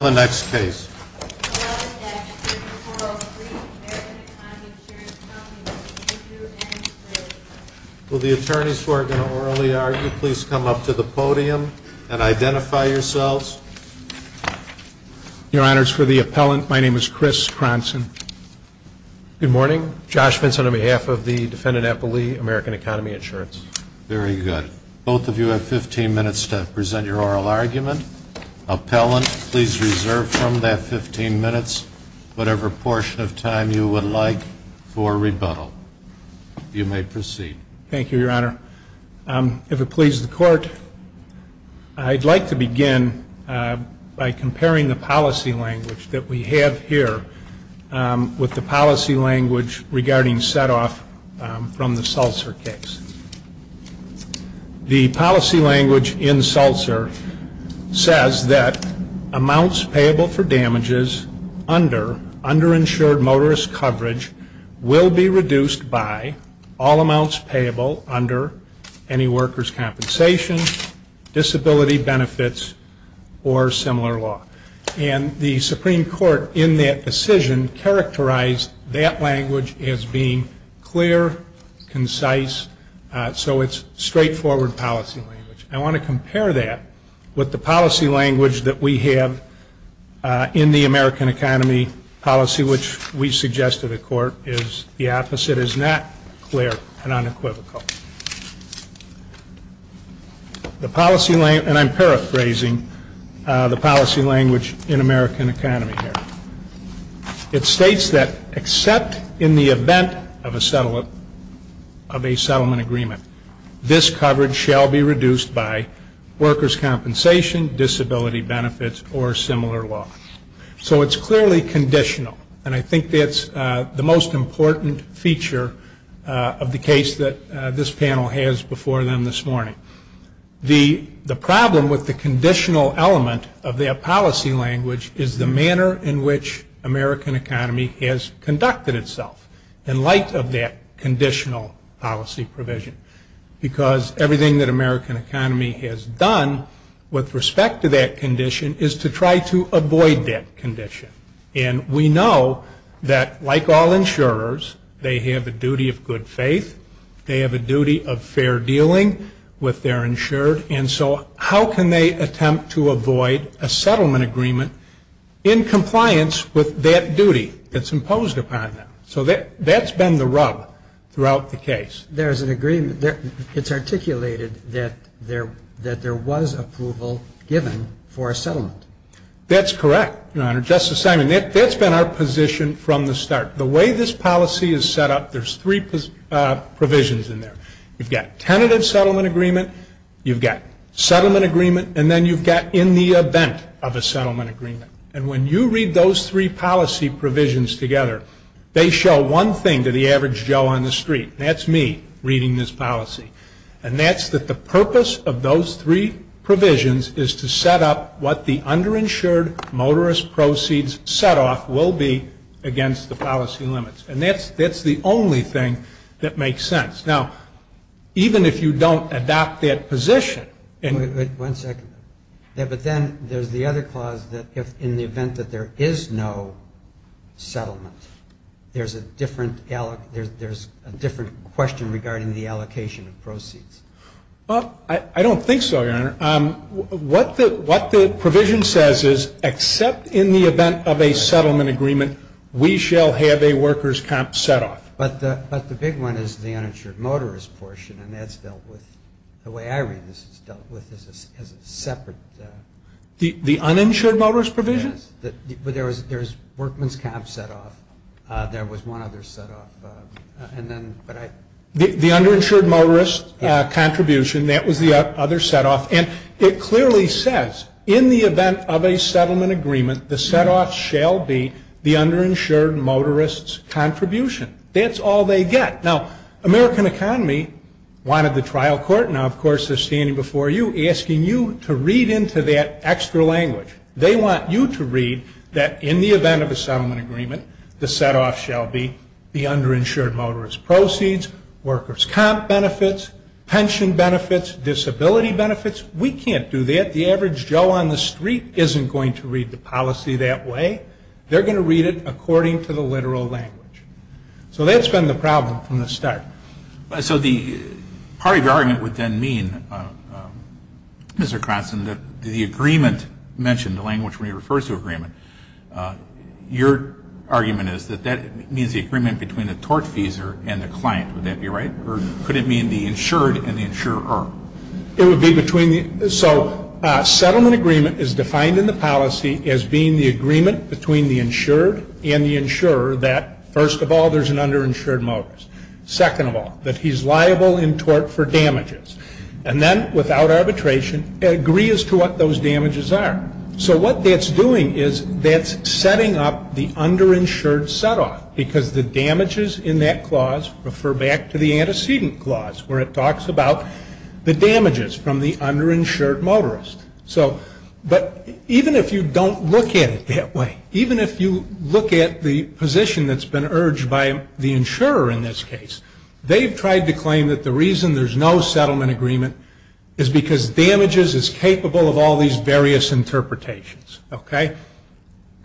Will the attorneys who are going to orally argue please come up to the podium and identify yourselves. Your Honors, for the appellant, my name is Chris Cronson. Good morning. Josh Vinson on behalf of the defendant at Beli, American Economy Insurance. Very good. Both of you have 15 minutes to present your oral argument. Appellant, please reserve from that 15 minutes whatever portion of time you would like for rebuttal. You may proceed. Thank you, Your Honor. If it pleases the Court, I'd like to begin by comparing the policy language that we have here with the policy language regarding set-off from the Seltzer case. The policy language in Seltzer says that amounts payable for damages under underinsured motorist coverage will be reduced by all amounts payable under any workers' compensation, disability benefits, or similar law. And the Supreme Court in that decision characterized that language as being clear, concise, so it's straightforward policy language. I want to compare that with the policy language that we have in the American Economy policy, which we suggest to the Court is the opposite, is not clear and unequivocal. The policy, and I'm paraphrasing the policy language in American Economy here, it states that except in the event of a settlement of a settlement agreement, this coverage shall be reduced by workers' compensation, disability benefits, or similar law. So it's clearly conditional, and I think that's the most important feature of the case that this panel has before them this morning. The problem with the conditional element of that policy language is the manner in which American Economy has conducted itself in light of that conditional policy provision. Because everything that American Economy has done with respect to that condition is to try to avoid that condition. And we know that like all insurers, they have a duty of good faith, they have a duty of fair dealing with their insured, and so how can they attempt to avoid a settlement agreement in compliance with that duty that's imposed upon them? So that's been the rub throughout the case. There's an agreement, it's articulated that there was approval given for a settlement. That's correct, Your Honor. Justice Simon, that's been our position from the start. The way this policy is set up, there's three provisions in there. You've got tentative settlement agreement, you've got settlement agreement, and then you've got in the event of a settlement agreement. And when you read those three policy provisions together, they show one thing to the average Joe on the street, and that's me reading this policy. And that's that the purpose of those three provisions is to set up what the underinsured motorist proceeds set off will be against the policy limits. And that's the only thing that makes sense. Now, even if you don't adopt that position and Wait, wait, wait. One second. Yeah, but then there's the other clause that if in the event that there is no settlement, there's a different question regarding the allocation of proceeds. Well, I don't think so, Your Honor. What the provision says is except in the event of a settlement agreement, we shall have a worker's comp set off. But the big one is the uninsured motorist portion, and that's dealt with, the way I read this, it's dealt with as a separate The uninsured motorist provision? Yes, but there's workman's comp set off. There was one other set off. The underinsured motorist contribution, that was the other set off. And it clearly says in the event of a settlement agreement, the set off shall be the underinsured motorist's contribution. That's all they get. Now, American Economy wanted the trial court, now of course they're standing before you, asking you to read into that extra language. They want you to read that in the event of a settlement agreement, the set off shall be the underinsured motorist's proceeds, worker's comp benefits, pension benefits, disability benefits. We can't do that. The average Joe on the street isn't going to read the policy that way. They're going to read it according to the literal language. So that's been the problem from the start. So the party argument would then mean, Mr. Croson, that the agreement mentioned, the 2-2 agreement, your argument is that that means the agreement between the tortfeasor and the client. Would that be right? Or could it mean the insured and the insurer? It would be between the, so settlement agreement is defined in the policy as being the agreement between the insured and the insurer that, first of all, there's an underinsured motorist. Second of all, that he's liable in tort for damages. And then, without arbitration, agree as to what those damages are. So what that's doing is that's setting up the underinsured set off, because the damages in that clause refer back to the antecedent clause, where it talks about the damages from the underinsured motorist. So, but even if you don't look at it that way, even if you look at the position that's been urged by the insurer in this case, they've tried to claim that the reason there's no of all these various interpretations. Okay?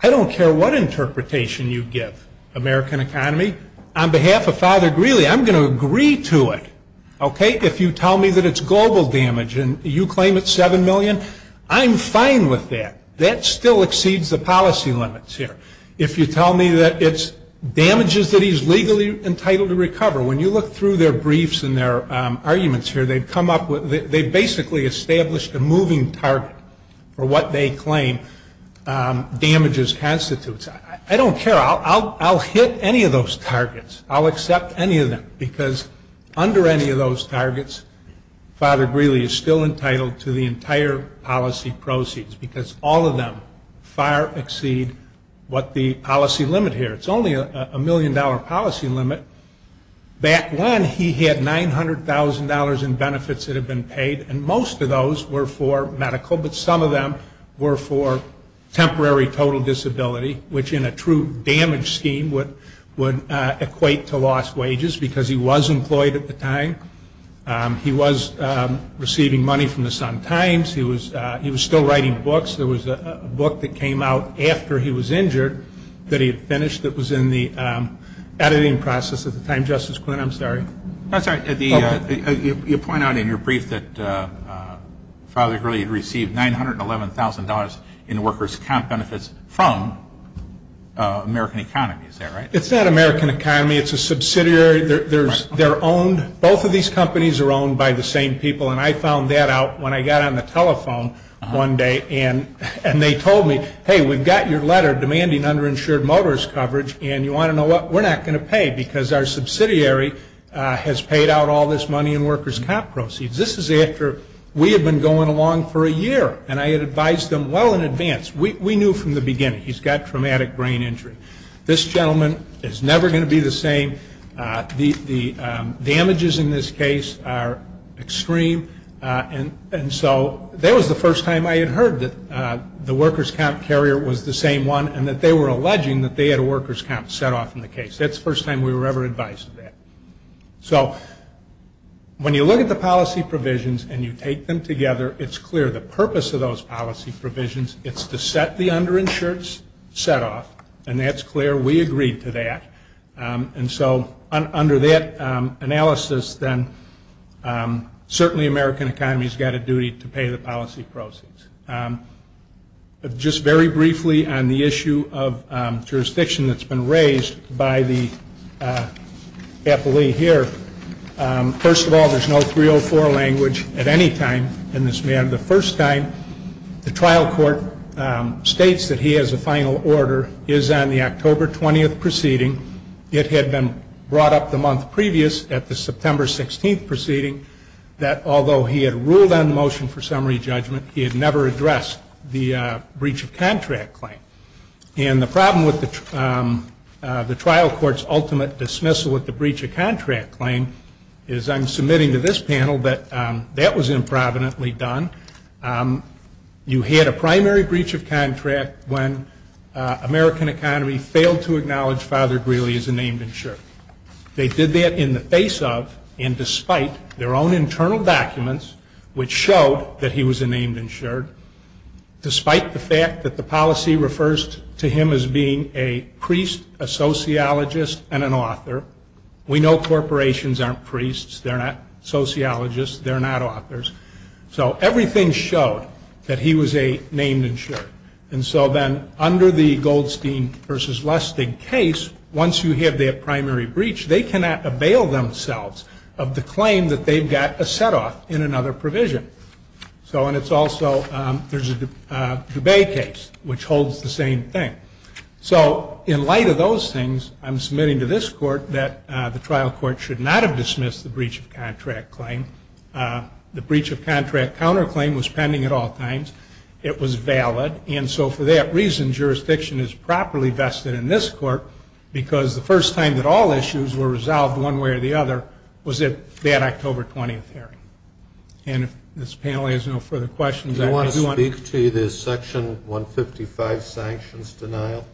I don't care what interpretation you give American economy. On behalf of Father Greeley, I'm going to agree to it. Okay? If you tell me that it's global damage and you claim it's 7 million, I'm fine with that. That still exceeds the policy limits here. If you tell me that it's damages that he's legally entitled to recover. When you look through their briefs and their arguments here, they've come up they've basically established a moving target for what they claim damages constitutes. I don't care. I'll hit any of those targets. I'll accept any of them, because under any of those targets, Father Greeley is still entitled to the entire policy proceeds, because all of them far exceed what the policy limit here. It's only a million dollar policy limit. Back when he had $900,000 in benefits that had been paid, and most of those were for medical, but some of them were for temporary total disability, which in a true damage scheme would equate to lost wages, because he was employed at the time. He was receiving money from the Sun Times. He was still writing books. There was a book that came out after he was at the time. Justice Quinn, I'm sorry. You point out in your brief that Father Greeley had received $911,000 in workers' comp benefits from American Economy. Is that right? It's not American Economy. It's a subsidiary. They're owned. Both of these companies are owned by the same people. I found that out when I got on the telephone one day. They told me, hey, we've got your letter demanding underinsured motorist coverage, and you want to pay? We're not going to pay because our subsidiary has paid out all this money in workers' comp proceeds. This is after we had been going along for a year, and I had advised them well in advance. We knew from the beginning he's got traumatic brain injury. This gentleman is never going to be the same. The damages in this case are extreme, and so that was the first time I had heard that the workers' comp carrier was the same one, and that they were alleging that they had a workers' comp set off in the case. That's the first time we were ever advised of that. So when you look at the policy provisions and you take them together, it's clear the purpose of those policy provisions is to set the underinsureds set off, and that's clear. We agreed to that, and so under that analysis, then certainly American Economy's got a duty to pay the policy proceeds. Just very briefly on the issue of jurisdiction that's been raised by the employee here. First of all, there's no 304 language at any time in this matter. The first time the trial court states that he has a final order is on the October 20th proceeding. It had been brought up the month previous at the September 16th proceeding that although he had ruled on the motion for summary judgment, he had never addressed the breach of contract claim, and the problem with the trial court's ultimate dismissal at the breach of contract claim is I'm submitting to this panel that that was improvidently done. You had a primary breach of contract when American Economy failed to acknowledge Father Greeley as a named insured. They did that in the face of and despite their own internal documents which showed that he was a named insured, despite the fact that the policy refers to him as being a priest, a sociologist, and an author. We know corporations aren't priests, they're not sociologists, they're not authors. So everything showed that he was a named insured, and so then under the Goldstein v. Lustig case, once you have that primary breach, they cannot avail themselves of the claim that they've got a set-off in another provision. So and it's also, there's a Dubay case which holds the same thing. So in light of those things, I'm submitting to this court that the trial court should not have dismissed the breach of contract claim. The breach of contract counterclaim was pending at all times. It was valid, and so for that reason, jurisdiction is properly vested in this court because the first time that all issues were resolved one way or the other was at that October 20th hearing. And if this panel has no further questions, I do want to Do you want to speak to the Section 155 sanctions denial?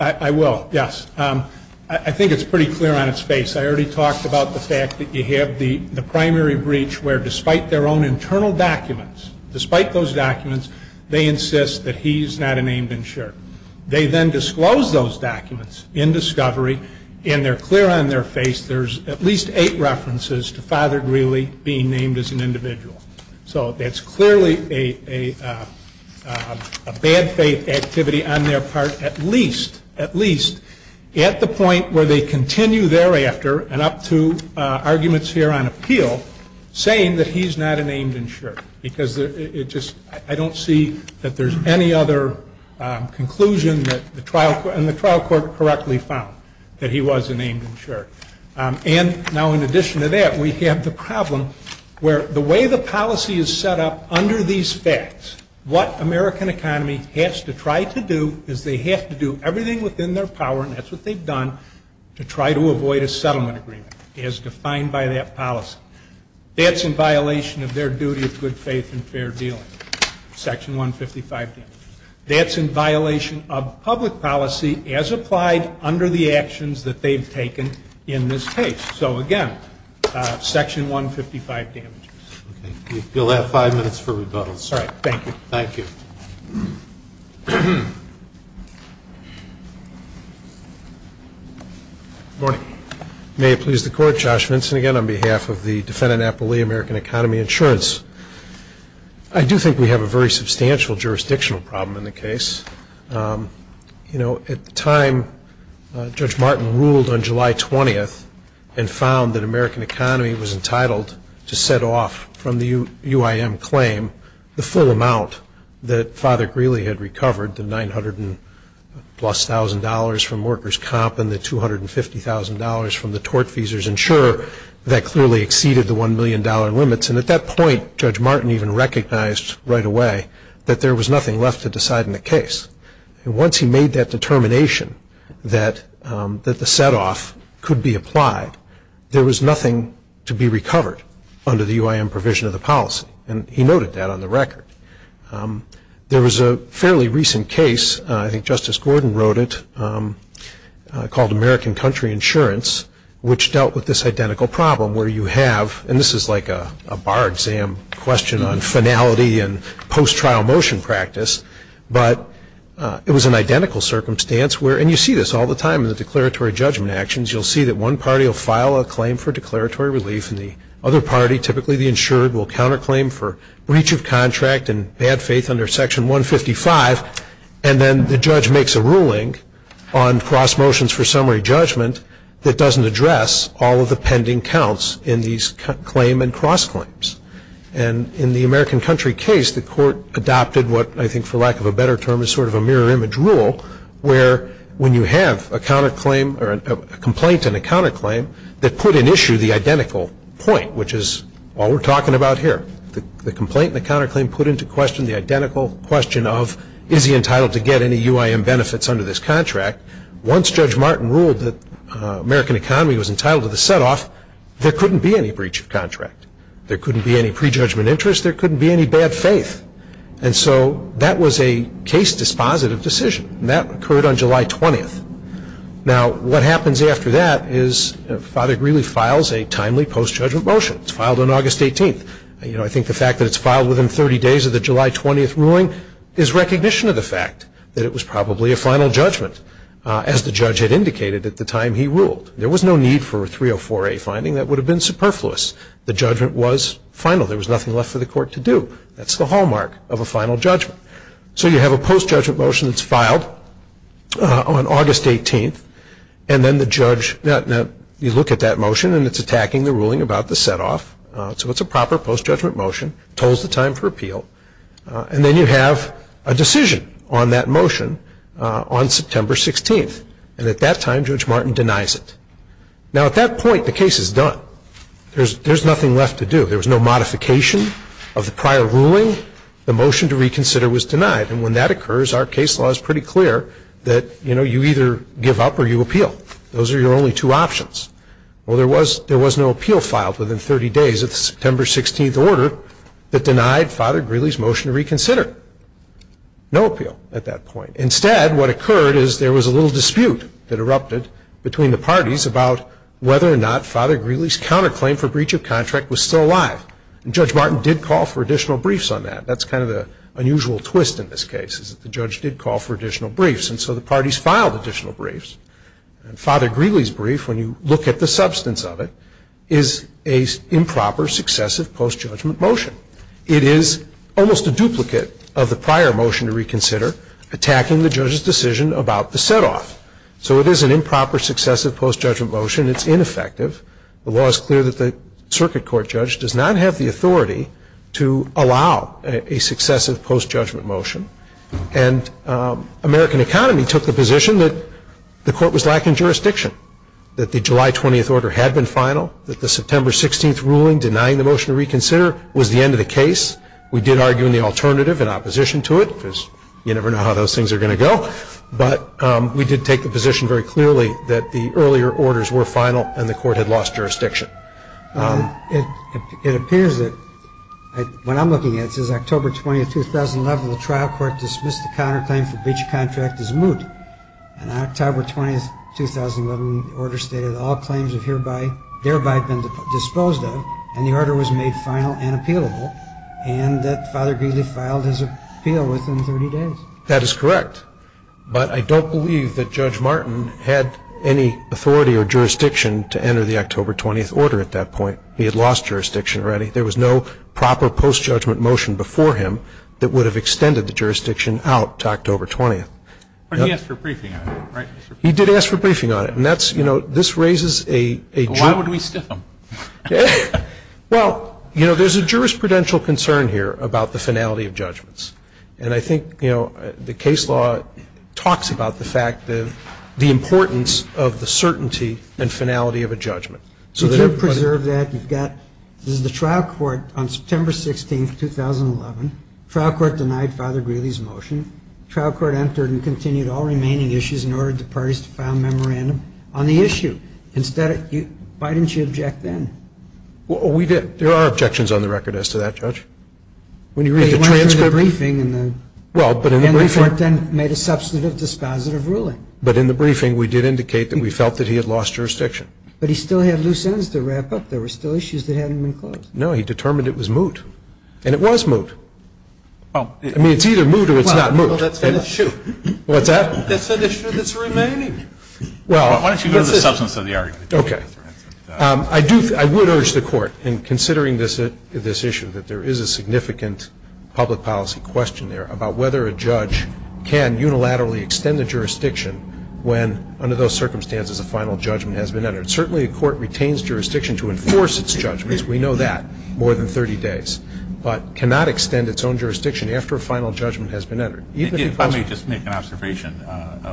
I will, yes. I think it's pretty clear on its face. I already talked about the fact that you have the primary breach where despite their own internal documents, despite those he's not a named insured. They then disclose those documents in discovery, and they're clear on their face there's at least eight references to Father Greeley being named as an individual. So that's clearly a bad faith activity on their part, at least, at least at the point where they continue thereafter and up to arguments here on appeal saying that he's not a named insured because it just I don't see that there's any other conclusion that the trial and the trial court correctly found that he was a named insured. And now in addition to that, we have the problem where the way the policy is set up under these facts, what American economy has to try to do is they have to do everything within their power, and that's what they've done, to try to avoid a settlement agreement as defined by that policy. That's in violation of their duty of good faith and fair dealing. Section 155 damages. That's in violation of public policy as applied under the actions that they've taken in this case. So again, Section 155 damages. Okay. We'll have five minutes for rebuttals. All right. Thank you. Thank you. Good morning. May it please the Court, Josh Vinson again on behalf of the Defendant Appellee American Economy Insurance. I do think we have a very substantial jurisdictional problem in the case. You know, at the time, Judge Martin ruled on July 20th and found that American really had recovered the $900,000 plus from workers' comp and the $250,000 from the tort feasors. And sure, that clearly exceeded the $1 million limits. And at that point, Judge Martin even recognized right away that there was nothing left to decide in the case. And once he made that determination that the setoff could be applied, there was nothing to be recovered under the UIM provision of the policy. And he noted that on the record. There was a fairly recent case, I think Justice Gordon wrote it, called American Country Insurance which dealt with this identical problem where you have, and this is like a bar exam question on finality and post-trial motion practice, but it was an identical circumstance where, and you see this all the time in the declaratory judgment actions, you'll see that one party will file a claim for declaratory relief and the other party, typically the insured, will file a counterclaim for breach of contract and bad faith under Section 155. And then the judge makes a ruling on cross motions for summary judgment that doesn't address all of the pending counts in these claim and cross claims. And in the American Country case, the court adopted what I think for lack of a better term is sort of a mirror image rule where when you have a counterclaim or a complaint and a counterclaim that put in there, the complaint and the counterclaim put into question the identical question of is he entitled to get any UIM benefits under this contract. Once Judge Martin ruled that American economy was entitled to the setoff, there couldn't be any breach of contract. There couldn't be any prejudgment interest. There couldn't be any bad faith. And so that was a case dispositive decision. And that occurred on July 20th. Now what happens after that is Father Greeley files a timely post-judgment motion. It's I think the fact that it's filed within 30 days of the July 20th ruling is recognition of the fact that it was probably a final judgment, as the judge had indicated at the time he ruled. There was no need for a 304A finding. That would have been superfluous. The judgment was final. There was nothing left for the court to do. That's the hallmark of a final judgment. So you have a post-judgment motion that's filed on August 18th. And then the judge, you look at that motion and it's attacking the ruling about the setoff. So it's a proper post-judgment motion. It holds the time for appeal. And then you have a decision on that motion on September 16th. And at that time, Judge Martin denies it. Now at that point, the case is done. There's nothing left to do. There was no modification of the prior ruling. The motion to reconsider was denied. And when that occurs, our case law is pretty clear that you either give up or you appeal. Those are your only two options. Well, there was no appeal filed within 30 days of the September 16th order that denied Father Greeley's motion to reconsider. No appeal at that point. Instead, what occurred is there was a little dispute that erupted between the parties about whether or not Father Greeley's counterclaim for breach of contract was still alive. And Judge Martin did call for additional briefs on that. That's kind of the unusual twist in this case, is that the judge did call for additional briefs. And so the parties filed additional briefs. And Father Greeley's brief, when you look at the substance of it, is a improper successive post-judgment motion. It is almost a duplicate of the prior motion to reconsider, attacking the judge's decision about the set-off. So it is an improper successive post-judgment motion. It's ineffective. The law is clear that the Circuit Court judge does not have the authority to allow a successive post-judgment motion. And American Economy took the position that the court was lacking jurisdiction, that the July 20th order had been final, that the September 16th ruling denying the motion to reconsider was the end of the case. We did argue in the alternative, in opposition to it, because you never know how those things are going to go. But we did take the position very clearly that the earlier orders were final and the court had lost jurisdiction. It appears that, when I'm looking at it, it says October 20th, 2011, the trial court dismissed the counterclaim for breach of contract as moot. And on October 20th, 2011, the order stated all claims have hereby, thereby been disposed of, and the order was made final and appealable, and that Father Greeley filed his appeal within 30 days. That is correct. But I don't believe that Judge Martin had any authority or jurisdiction to enter the October 20th order at that point. He had lost jurisdiction already. There was no proper post-judgment motion before him that would have extended the jurisdiction out to October 20th. But he asked for a briefing on it, right? He did ask for a briefing on it. And that's, you know, this raises a So why would we stiff him? Well, you know, there's a jurisprudential concern here about the finality of judgments. And I think, you know, the case law talks about the fact that the importance of the finality of a judgment. Could you preserve that? You've got, this is the trial court on September 16th, 2011. Trial court denied Father Greeley's motion. Trial court entered and continued all remaining issues and ordered the parties to file a memorandum on the issue. Instead, you, why didn't you object then? Well, we did. There are objections on the record as to that, Judge. When you read the transcript. You went through the briefing and the Well, but in the briefing And the court then made a substantive dispositive ruling. But in the briefing, we did indicate that we felt that he had lost jurisdiction. But he still had loose ends to wrap up. There were still issues that hadn't been closed. No, he determined it was moot. And it was moot. I mean, it's either moot or it's not moot. Well, that's an issue. What's that? That's an issue that's remaining. Well Why don't you go to the substance of the argument? Okay. I do, I would urge the court in considering this issue, that there is a significant public policy question there about whether a judge can unilaterally extend the jurisdiction when, under those circumstances, a final judgment has been entered. Certainly, a court retains jurisdiction to enforce its judgments. We know that. More than 30 days. But cannot extend its own jurisdiction after a final judgment has been entered. Let me just make an observation.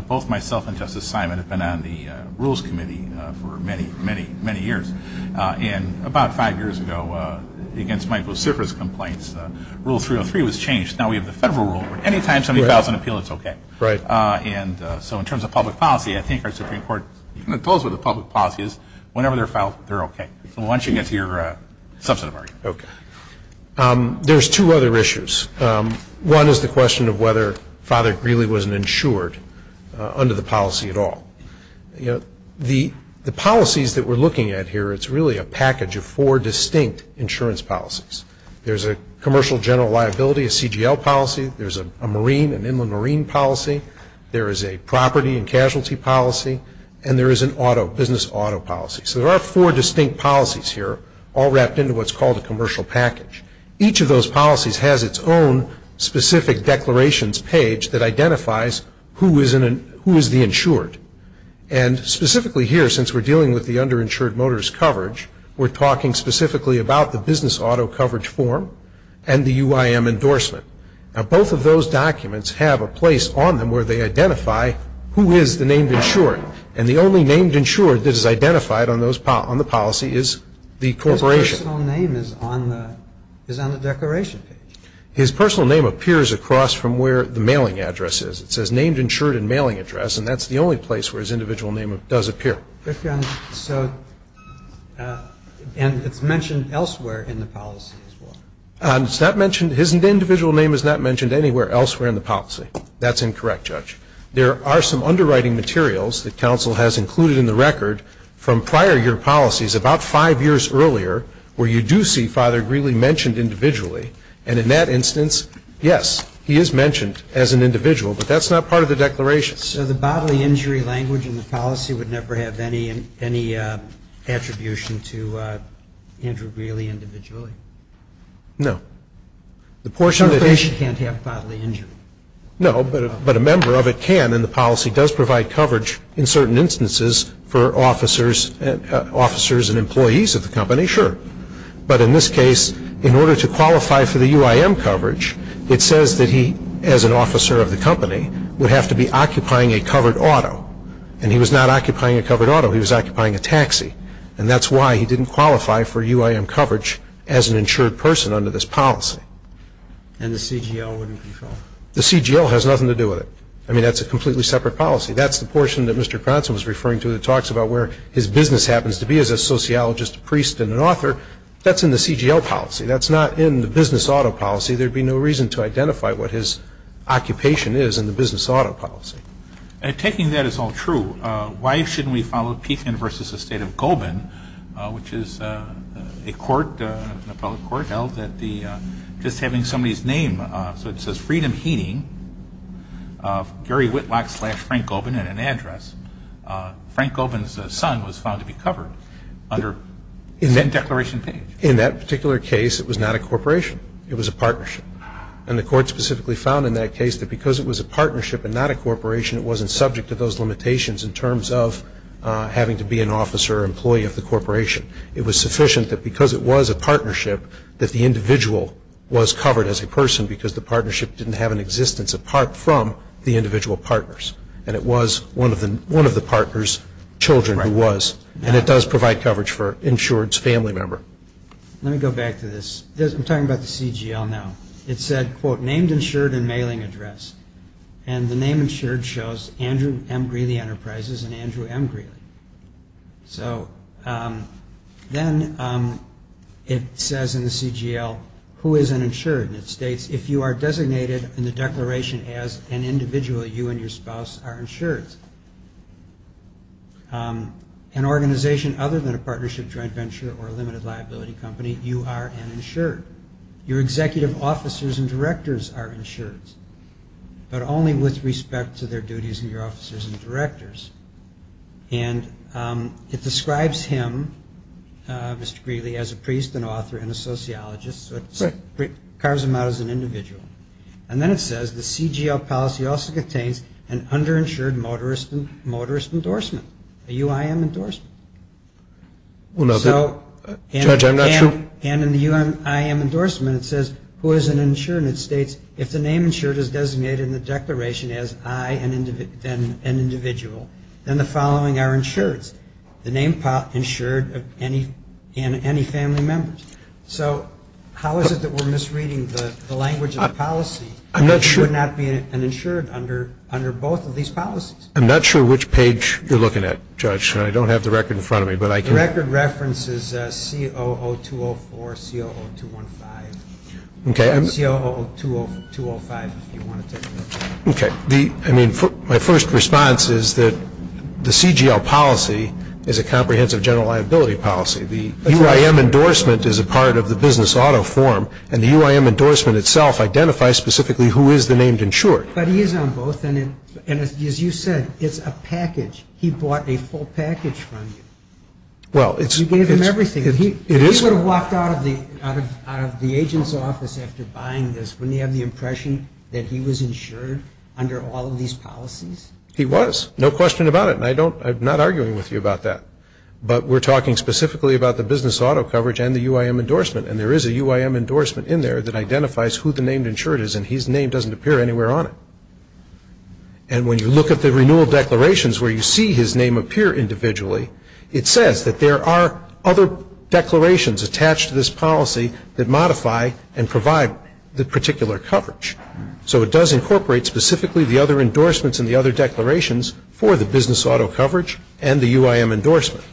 Both myself and Justice Simon have been on the Rules Committee for many, many, many years. And about five years ago, against Mike Lucifer's complaints, Rule 303 was changed. Now we have the federal rule where any time somebody files an appeal, it's okay. Right. And so in terms of public policy, I think our Supreme Court, you can impose what the public policy is. Whenever they're filed, they're okay. So why don't you get to your substance of argument? Okay. There's two other issues. One is the question of whether Father Greeley was insured under the policy at all. The policies that we're looking at here, it's really a package of four distinct insurance policies. There's a commercial general liability, a CGL policy. There's a marine, an inland marine policy. There is a property and casualty policy. And there is an auto, business auto policy. So there are four distinct policies here, all wrapped into what's called a commercial package. Each of those policies has its own specific declarations page that identifies who is the insured. And specifically here, since we're dealing with the underinsured motorist coverage, we're talking specifically about the business auto coverage form and the UIM endorsement. Now, both of those documents have a place on them where they identify who is the named insured. And the only named insured that is identified on the policy is the corporation. His personal name is on the declaration page. His personal name appears across from where the mailing address is. It says named insured and mailing address. And that's the only place where his individual name does appear. And it's mentioned elsewhere in the policy as well. It's not mentioned, his individual name is not mentioned anywhere elsewhere in the policy. That's incorrect, Judge. There are some underwriting materials that counsel has included in the record from prior year policies about five years earlier where you do see Father Greeley mentioned individually. And in that instance, yes, he is mentioned as an individual. But that's not part of the declaration. So the bodily injury language in the policy would never have any attribution to Andrew Greeley individually? No. The corporation can't have bodily injury? No, but a member of it can. And the policy does provide coverage in certain instances for officers and employees of the company, sure. But in this case, in order to qualify for the UIM coverage, it says that he, as an officer of the company, would have to be occupying a covered auto. And he was not occupying a covered auto. He was occupying a taxi. And that's why he didn't qualify for UIM coverage as an insured person under this policy. And the CGL wouldn't be followed? The CGL has nothing to do with it. I mean, that's a completely separate policy. That's the portion that Mr. Cronson was referring to that talks about where his business happens to be as a sociologist, a priest, and an author. That's in the CGL policy. That's not in the business auto policy. There'd be no reason to identify what his occupation is in the business auto policy. And taking that as all true, why shouldn't we follow Pethin v. the State of Gobin, which is a court, an appellate court, held that just having somebody's name, so it says Freedom Heating, Gary Whitlock slash Frank Gobin, and an address, Frank Gobin's son was found to be covered under that declaration page. In that particular case, it was not a corporation. It was a partnership. And the court specifically found in that case that because it was a partnership and not a corporation, it wasn't subject to those limitations in terms of having to be an officer or employee of the corporation. It was sufficient that because it was a partnership, that the individual was covered as a person because the partnership didn't have an existence apart from the individual partners. And it was one of the partners' children who was. And it does provide coverage for insured's family member. Let me go back to this. I'm talking about the CGL now. It said, quote, named insured and mailing address. And the name insured shows Andrew M. Greeley Enterprises and Andrew M. Greeley. So then it says in the CGL, who is an insured? And it states, if you are designated in the declaration as an individual, you and your spouse are insureds. An organization other than a partnership joint venture or a limited liability company, you are an insured. Your executive officers and directors are insureds, but only with respect to their duties and your officers and directors. And it describes him, Mr. Greeley, as a priest and author and a sociologist. So it carves him out as an individual. And then it says the CGL policy also contains an underinsured motorist endorsement, a UIM endorsement. And in the UIM endorsement, it says, who is an insured? And it states, if the name insured is designated in the declaration as I, then an individual, then the following are insureds. The name insured and any family members. So how is it that we're misreading the language of the policy if you would not be an insured under both of these policies? I'm not sure which page you're looking at, Judge. And I don't have the record in front of me, but I can. The record references COO204, COO215, COO205 if you want to take a look. Okay. I mean, my first response is that the CGL policy is a comprehensive general liability policy. The UIM endorsement is a part of the business auto form. And the UIM endorsement itself identifies specifically who is the named insured. But he is on both. And as you said, it's a package. He bought a full package from you. You gave him everything. If he would have walked out of the agent's office after buying this, wouldn't he have the impression that he was insured under all of these policies? He was. No question about it. And I'm not arguing with you about that. But we're talking specifically about the business auto coverage and the UIM endorsement. And there is a UIM endorsement in there that identifies who the named insured is. And his name doesn't appear anywhere on it. And when you look at the renewal declarations where you see his name appear individually, it says that there are other declarations attached to this policy that modify and provide the particular coverage. So it does incorporate specifically the other endorsements and the other declarations for the business auto coverage and the UIM endorsement.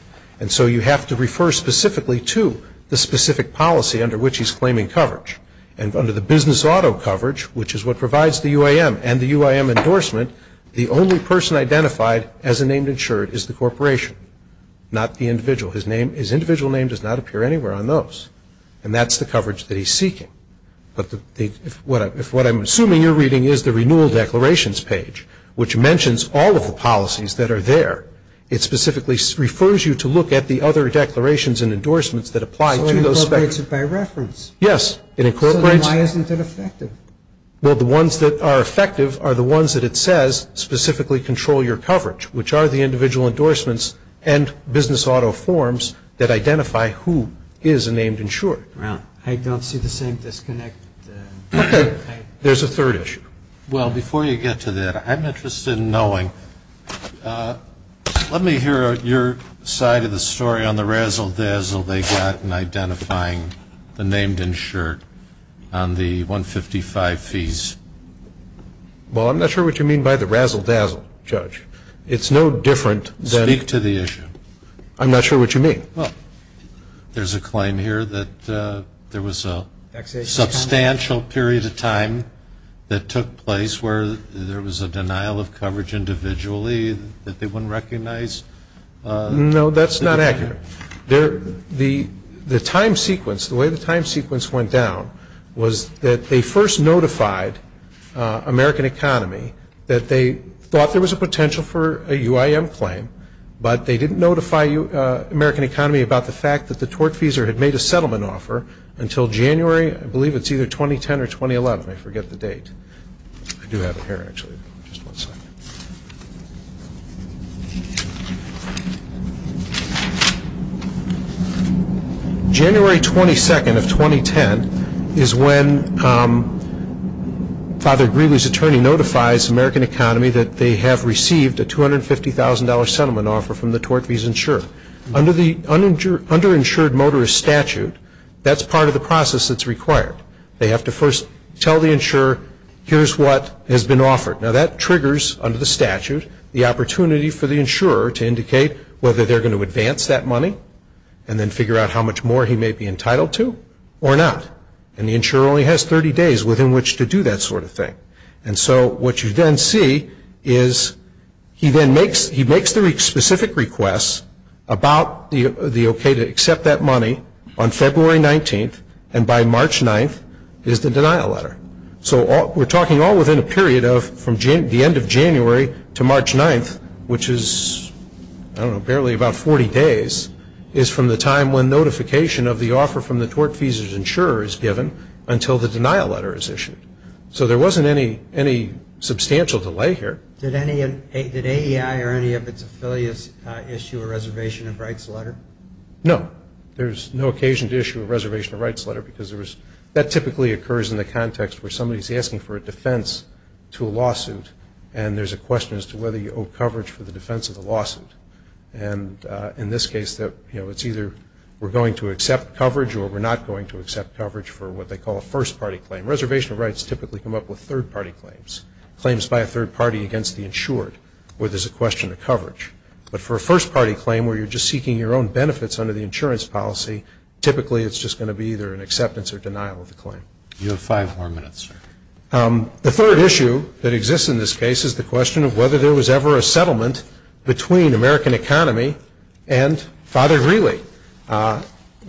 And so you have to refer specifically to the specific policy under which he's claiming coverage. And under the business auto coverage, which is what provides the UIM and the UIM endorsement, the only person identified as a named insured is the corporation, not the individual. His individual name does not appear anywhere on those. And that's the coverage that he's seeking. But if what I'm assuming you're reading is the renewal declarations page, which mentions all of the policies that are there, it specifically refers you to look at the other declarations and endorsements that apply to those specifics. Is it by reference? Yes, it incorporates. So then why isn't it effective? Well, the ones that are effective are the ones that it says specifically control your coverage, which are the individual endorsements and business auto forms that identify who is a named insured. Right. I don't see the same disconnect. Okay. There's a third issue. Well, before you get to that, I'm interested in knowing, let me hear your side of the story on the razzle-dazzle they got in identifying the named insured on the 155 fees. Well, I'm not sure what you mean by the razzle-dazzle, Judge. It's no different than Speak to the issue. I'm not sure what you mean. Well, there's a claim here that there was a substantial period of time that took place where there was a denial of coverage individually that they wouldn't recognize. No, that's not accurate. The time sequence, the way the time sequence went down was that they first notified American Economy that they thought there was a potential for a UIM claim, but they didn't notify American Economy about the fact that the tortfeasor had made a settlement offer until January, I believe it's either 2010 or 2011. I forget the date. I do have it here, actually. Just one second. January 22nd of 2010 is when Father Greeley's attorney notifies American Economy that they have received a $250,000 settlement offer from the tortfeasor. Under the underinsured motorist statute, that's part of the process that's required. They have to first tell the insurer, here's what has been offered. Now that triggers under the statute the opportunity for the insurer to indicate whether they're going to advance that money and then figure out how much more he may be entitled to or not. And the insurer only has 30 days within which to do that sort of thing. And so what you then see is he then makes the specific request about the okay to accept that money on February 19th and by March 9th is the denial letter. So we're talking all within a period of from the end of January to March 9th, which is, I don't know, barely about 40 days, is from the time when notification of the offer from the tortfeasor's insurer is given until the denial letter is issued. So there wasn't any substantial delay here. Did AEI or any of its affiliates issue a reservation of rights letter? No. There's no occasion to issue a reservation of rights letter because that typically occurs in the context where somebody is asking for a defense to a lawsuit and there's a question as to whether you owe coverage for the defense of the lawsuit. And in this case, you know, it's either we're going to accept coverage or we're not going to accept coverage for what they call a first-party claim. Reservation of rights typically come up with third-party claims, claims by a third-party against the insured where there's a question of coverage. But for a first-party claim where you're just seeking your own benefits under the insurance policy, typically it's just going to be either an acceptance or denial of the claim. You have five more minutes, sir. The third issue that exists in this case is the question of whether there was ever a settlement between American Economy and Father Greeley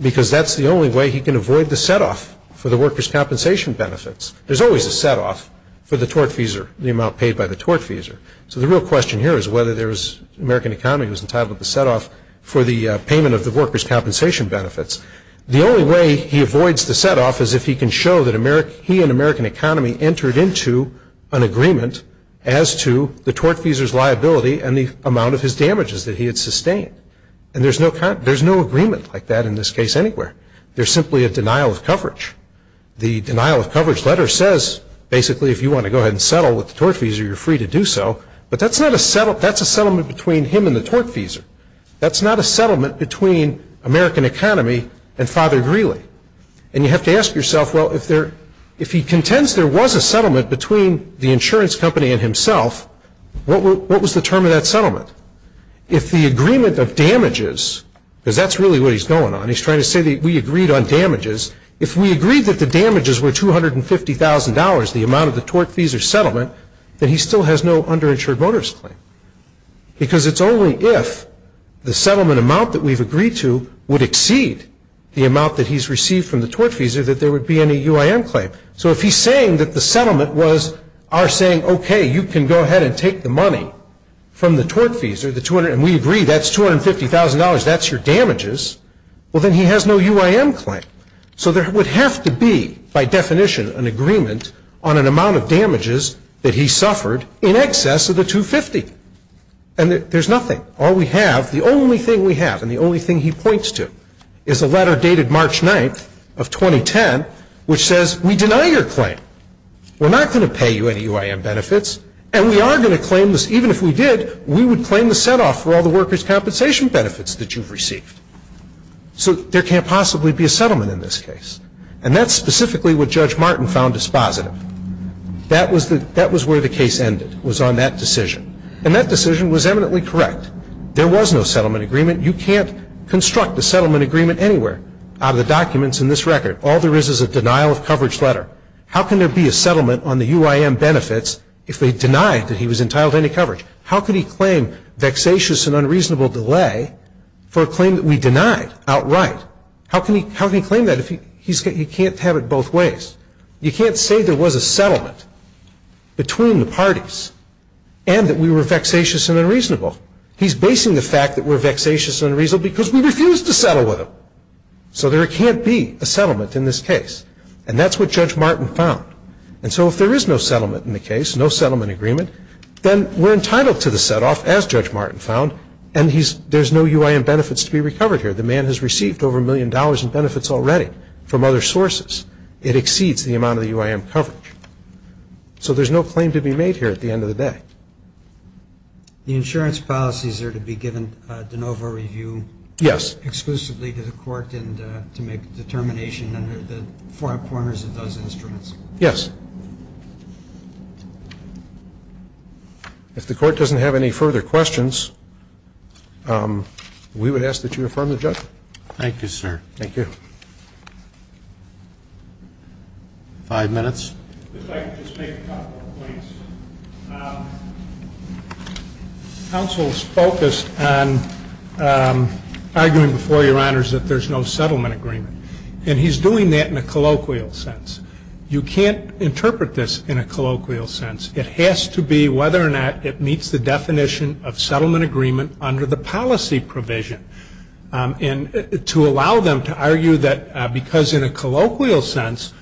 because that's the only way he can avoid the set-off for the workers' compensation benefits. There's always a set-off for the tortfeasor, the amount paid by the tortfeasor. So the real question here is whether there was American Economy was entitled to the set-off for the payment of the workers' compensation benefits. The only way he avoids the set-off is if he can show that he and American Economy entered into an agreement as to the tortfeasor's liability and the amount of his damages that he had sustained. And there's no agreement like that in this case anywhere. There's simply a denial of coverage. The denial of coverage letter says, basically, if you want to go ahead and settle with the tortfeasor, you're free to do so. But that's a settlement between him and the tortfeasor. That's not a settlement between American Economy and Father Greeley. And you have to ask yourself, well, if he contends there was a settlement between the insurance company and himself, what was the term of that settlement? If the agreement of damages, because that's really what he's going on. He's trying to say that we agreed on damages. If we agreed that the damages were $250,000, the amount of the tortfeasor's still has no underinsured voters claim. Because it's only if the settlement amount that we've agreed to would exceed the amount that he's received from the tortfeasor that there would be any UIM claim. So if he's saying that the settlement was our saying, okay, you can go ahead and take the money from the tortfeasor, the $200,000, and we agree that's $250,000, that's your damages, well, then he has no UIM claim. So there would have to be, by definition, an agreement on an amount of damages that he suffered in excess of the $250,000. And there's nothing. All we have, the only thing we have and the only thing he points to is a letter dated March 9th of 2010, which says we deny your claim. We're not going to pay you any UIM benefits, and we are going to claim this. Even if we did, we would claim the set-off for all the workers' compensation benefits that you've received. So there can't possibly be a settlement in this case. And that's specifically what Judge Martin found dispositive. That was where the case ended, was on that decision. And that decision was eminently correct. There was no settlement agreement. You can't construct a settlement agreement anywhere out of the documents in this record. All there is is a denial of coverage letter. How can there be a settlement on the UIM benefits if they denied that he was entitled to any coverage? How could he claim vexatious and unreasonable delay for a claim that we denied outright? How can he claim that if he can't have it both ways? You can't say there was a settlement between the parties and that we were vexatious and unreasonable. He's basing the fact that we're vexatious and unreasonable because we refused to settle with him. So there can't be a settlement in this case. And that's what Judge Martin found. And so if there is no settlement in the case, no settlement agreement, then we're entitled to the set-off, as Judge Martin found, and there's no UIM benefits to be recovered here. The man has received over a million dollars in benefits already from other sources. It exceeds the amount of the UIM coverage. So there's no claim to be made here at the end of the day. The insurance policies are to be given de novo review exclusively to the court and to make a determination under the four corners of those instruments? Yes. If the court doesn't have any further questions, we would ask that you affirm the judgment. Thank you, sir. Five minutes. If I could just make a couple of points. The counsel is focused on arguing before Your Honors that there's no settlement agreement. And he's doing that in a colloquial sense. You can't interpret this in a colloquial sense. It has to be whether or not it meets the definition agreement under the policy provision. And to allow them to argue that because in a colloquial sense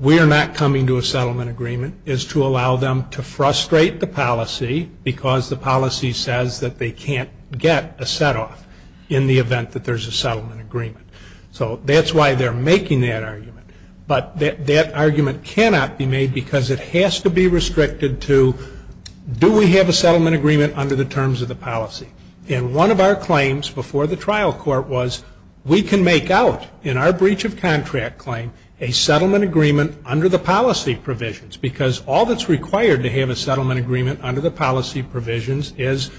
we are not coming to a settlement agreement is to allow them to frustrate the policy because the policy says that they can't get a set-off in the event that there's a settlement agreement. So that's why they're making that argument. But that argument cannot be made because it And one of our claims before the trial court was we can make out in our breach of contract claim a settlement agreement under the policy provisions because all that's required to have a settlement agreement under the policy provisions is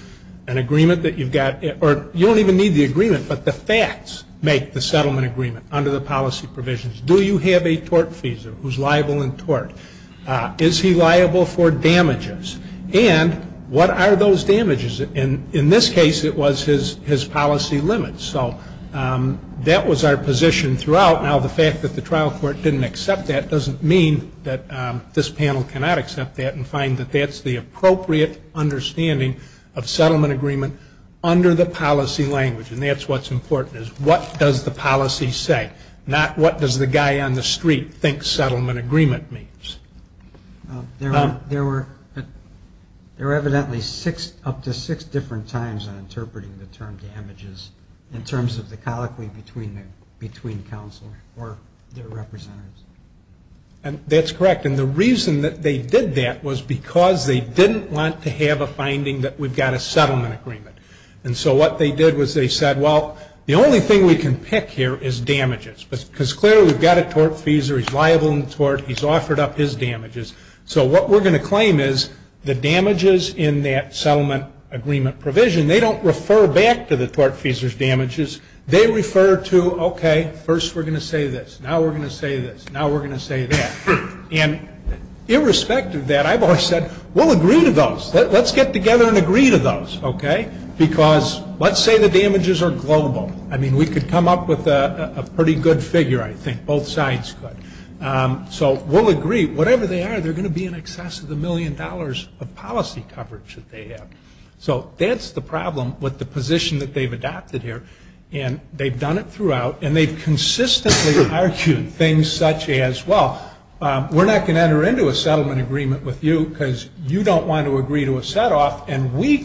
an agreement that you've got or you don't even need the agreement, but the facts make the settlement agreement under the policy provisions. Do you have a tort fees? Who's liable in tort? Is he liable for damages? And what are those damages? And in this case it was his policy limits. So that was our position throughout. Now the fact that the trial court didn't accept that doesn't mean that this panel cannot accept that and find that that's the appropriate understanding of settlement agreement under the policy language. And that's what's important is what does the policy say, not what does the guy on the street think settlement agreement means. There were evidently up to six different times on interpreting the term damages in terms of the colloquy between counsel or their representatives. And that's correct. And the reason that they did that was because they didn't want to have a finding that we've got a settlement agreement. And so what they did was they said, well, the only thing we can pick here is damages. Because clearly we've got a tort fees or he's offered up his damages. So what we're going to claim is the damages in that settlement agreement provision, they don't refer back to the tort fees or damages. They refer to, okay, first we're going to say this. Now we're going to say this. Now we're going to say that. And irrespective of that, I've always said, we'll agree to those. Let's get together and agree to those, okay? Because let's say the damages are global. I mean, we could come up with a pretty good figure, I think. Both sides could. So we'll agree, whatever they are, they're going to be in excess of the million dollars of policy coverage that they have. So that's the problem with the position that they've adopted here. And they've done it throughout. And they've consistently argued things such as, well, we're not going to enter into a settlement agreement with you because you don't want to agree to a setoff. And we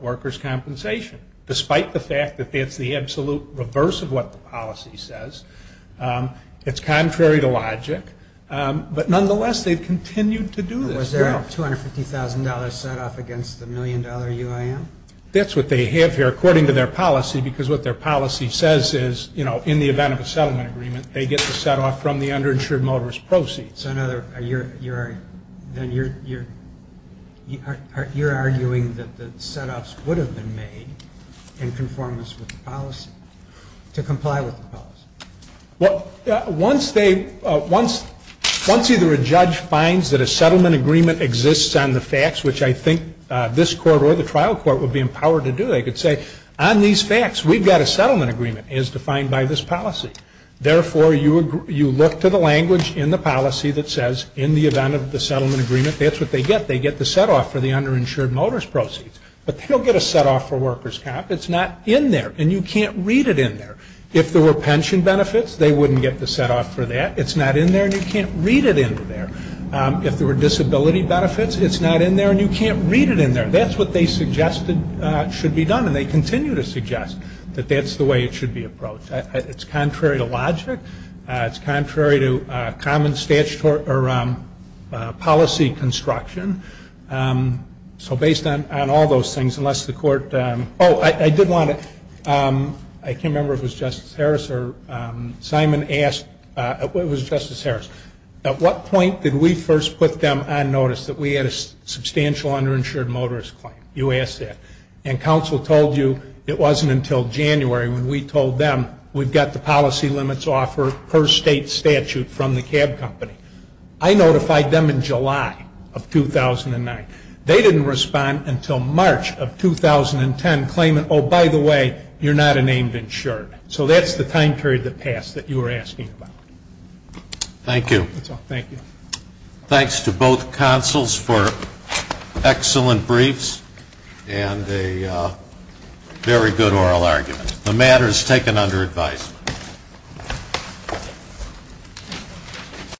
workers' compensation, despite the fact that that's the absolute reverse of what the policy says. It's contrary to logic. But nonetheless, they've continued to do this. Was there a $250,000 setoff against the million dollar UIM? That's what they have here, according to their policy, because what their policy says is, you know, in the event of a settlement agreement, they get the setoff from the underinsured motorist proceeds. So you're arguing that the setoffs would have been made in conformance with the policy, to comply with the policy? Once either a judge finds that a settlement agreement exists on the facts, which I think this court or the trial court would be empowered to do, they could say, on these facts, we've got a settlement agreement as defined by this policy. Therefore, you look to the language in the policy that says, in the event of the settlement agreement, that's what they get. They get the setoff for the underinsured motorist proceeds. But they don't get a setoff for workers' comp. It's not in there, and you can't read it in there. If there were pension benefits, they wouldn't get the setoff for that. It's not in there, and you can't read it in there. If there were disability benefits, it's not in there, and you can't read it in there. That's what they suggested should be done, and they continue to suggest that that's the way it should be approached. It's contrary to logic. It's contrary to common policy construction. So based on all those things, unless the court – oh, I did want to – I can't remember if it was Justice Harris or – Simon asked – it was Justice Harris. At what point did we first put them on notice that we had a substantial underinsured motorist claim? You we told them we've got the policy limits offer per state statute from the cab company. I notified them in July of 2009. They didn't respond until March of 2010, claiming, oh, by the way, you're not a named insured. So that's the time period that passed that you were asking about. Thank you. That's all. Thank you. Thanks to both counsels for excellent briefs and a very good oral argument. The matter is taken under advisement.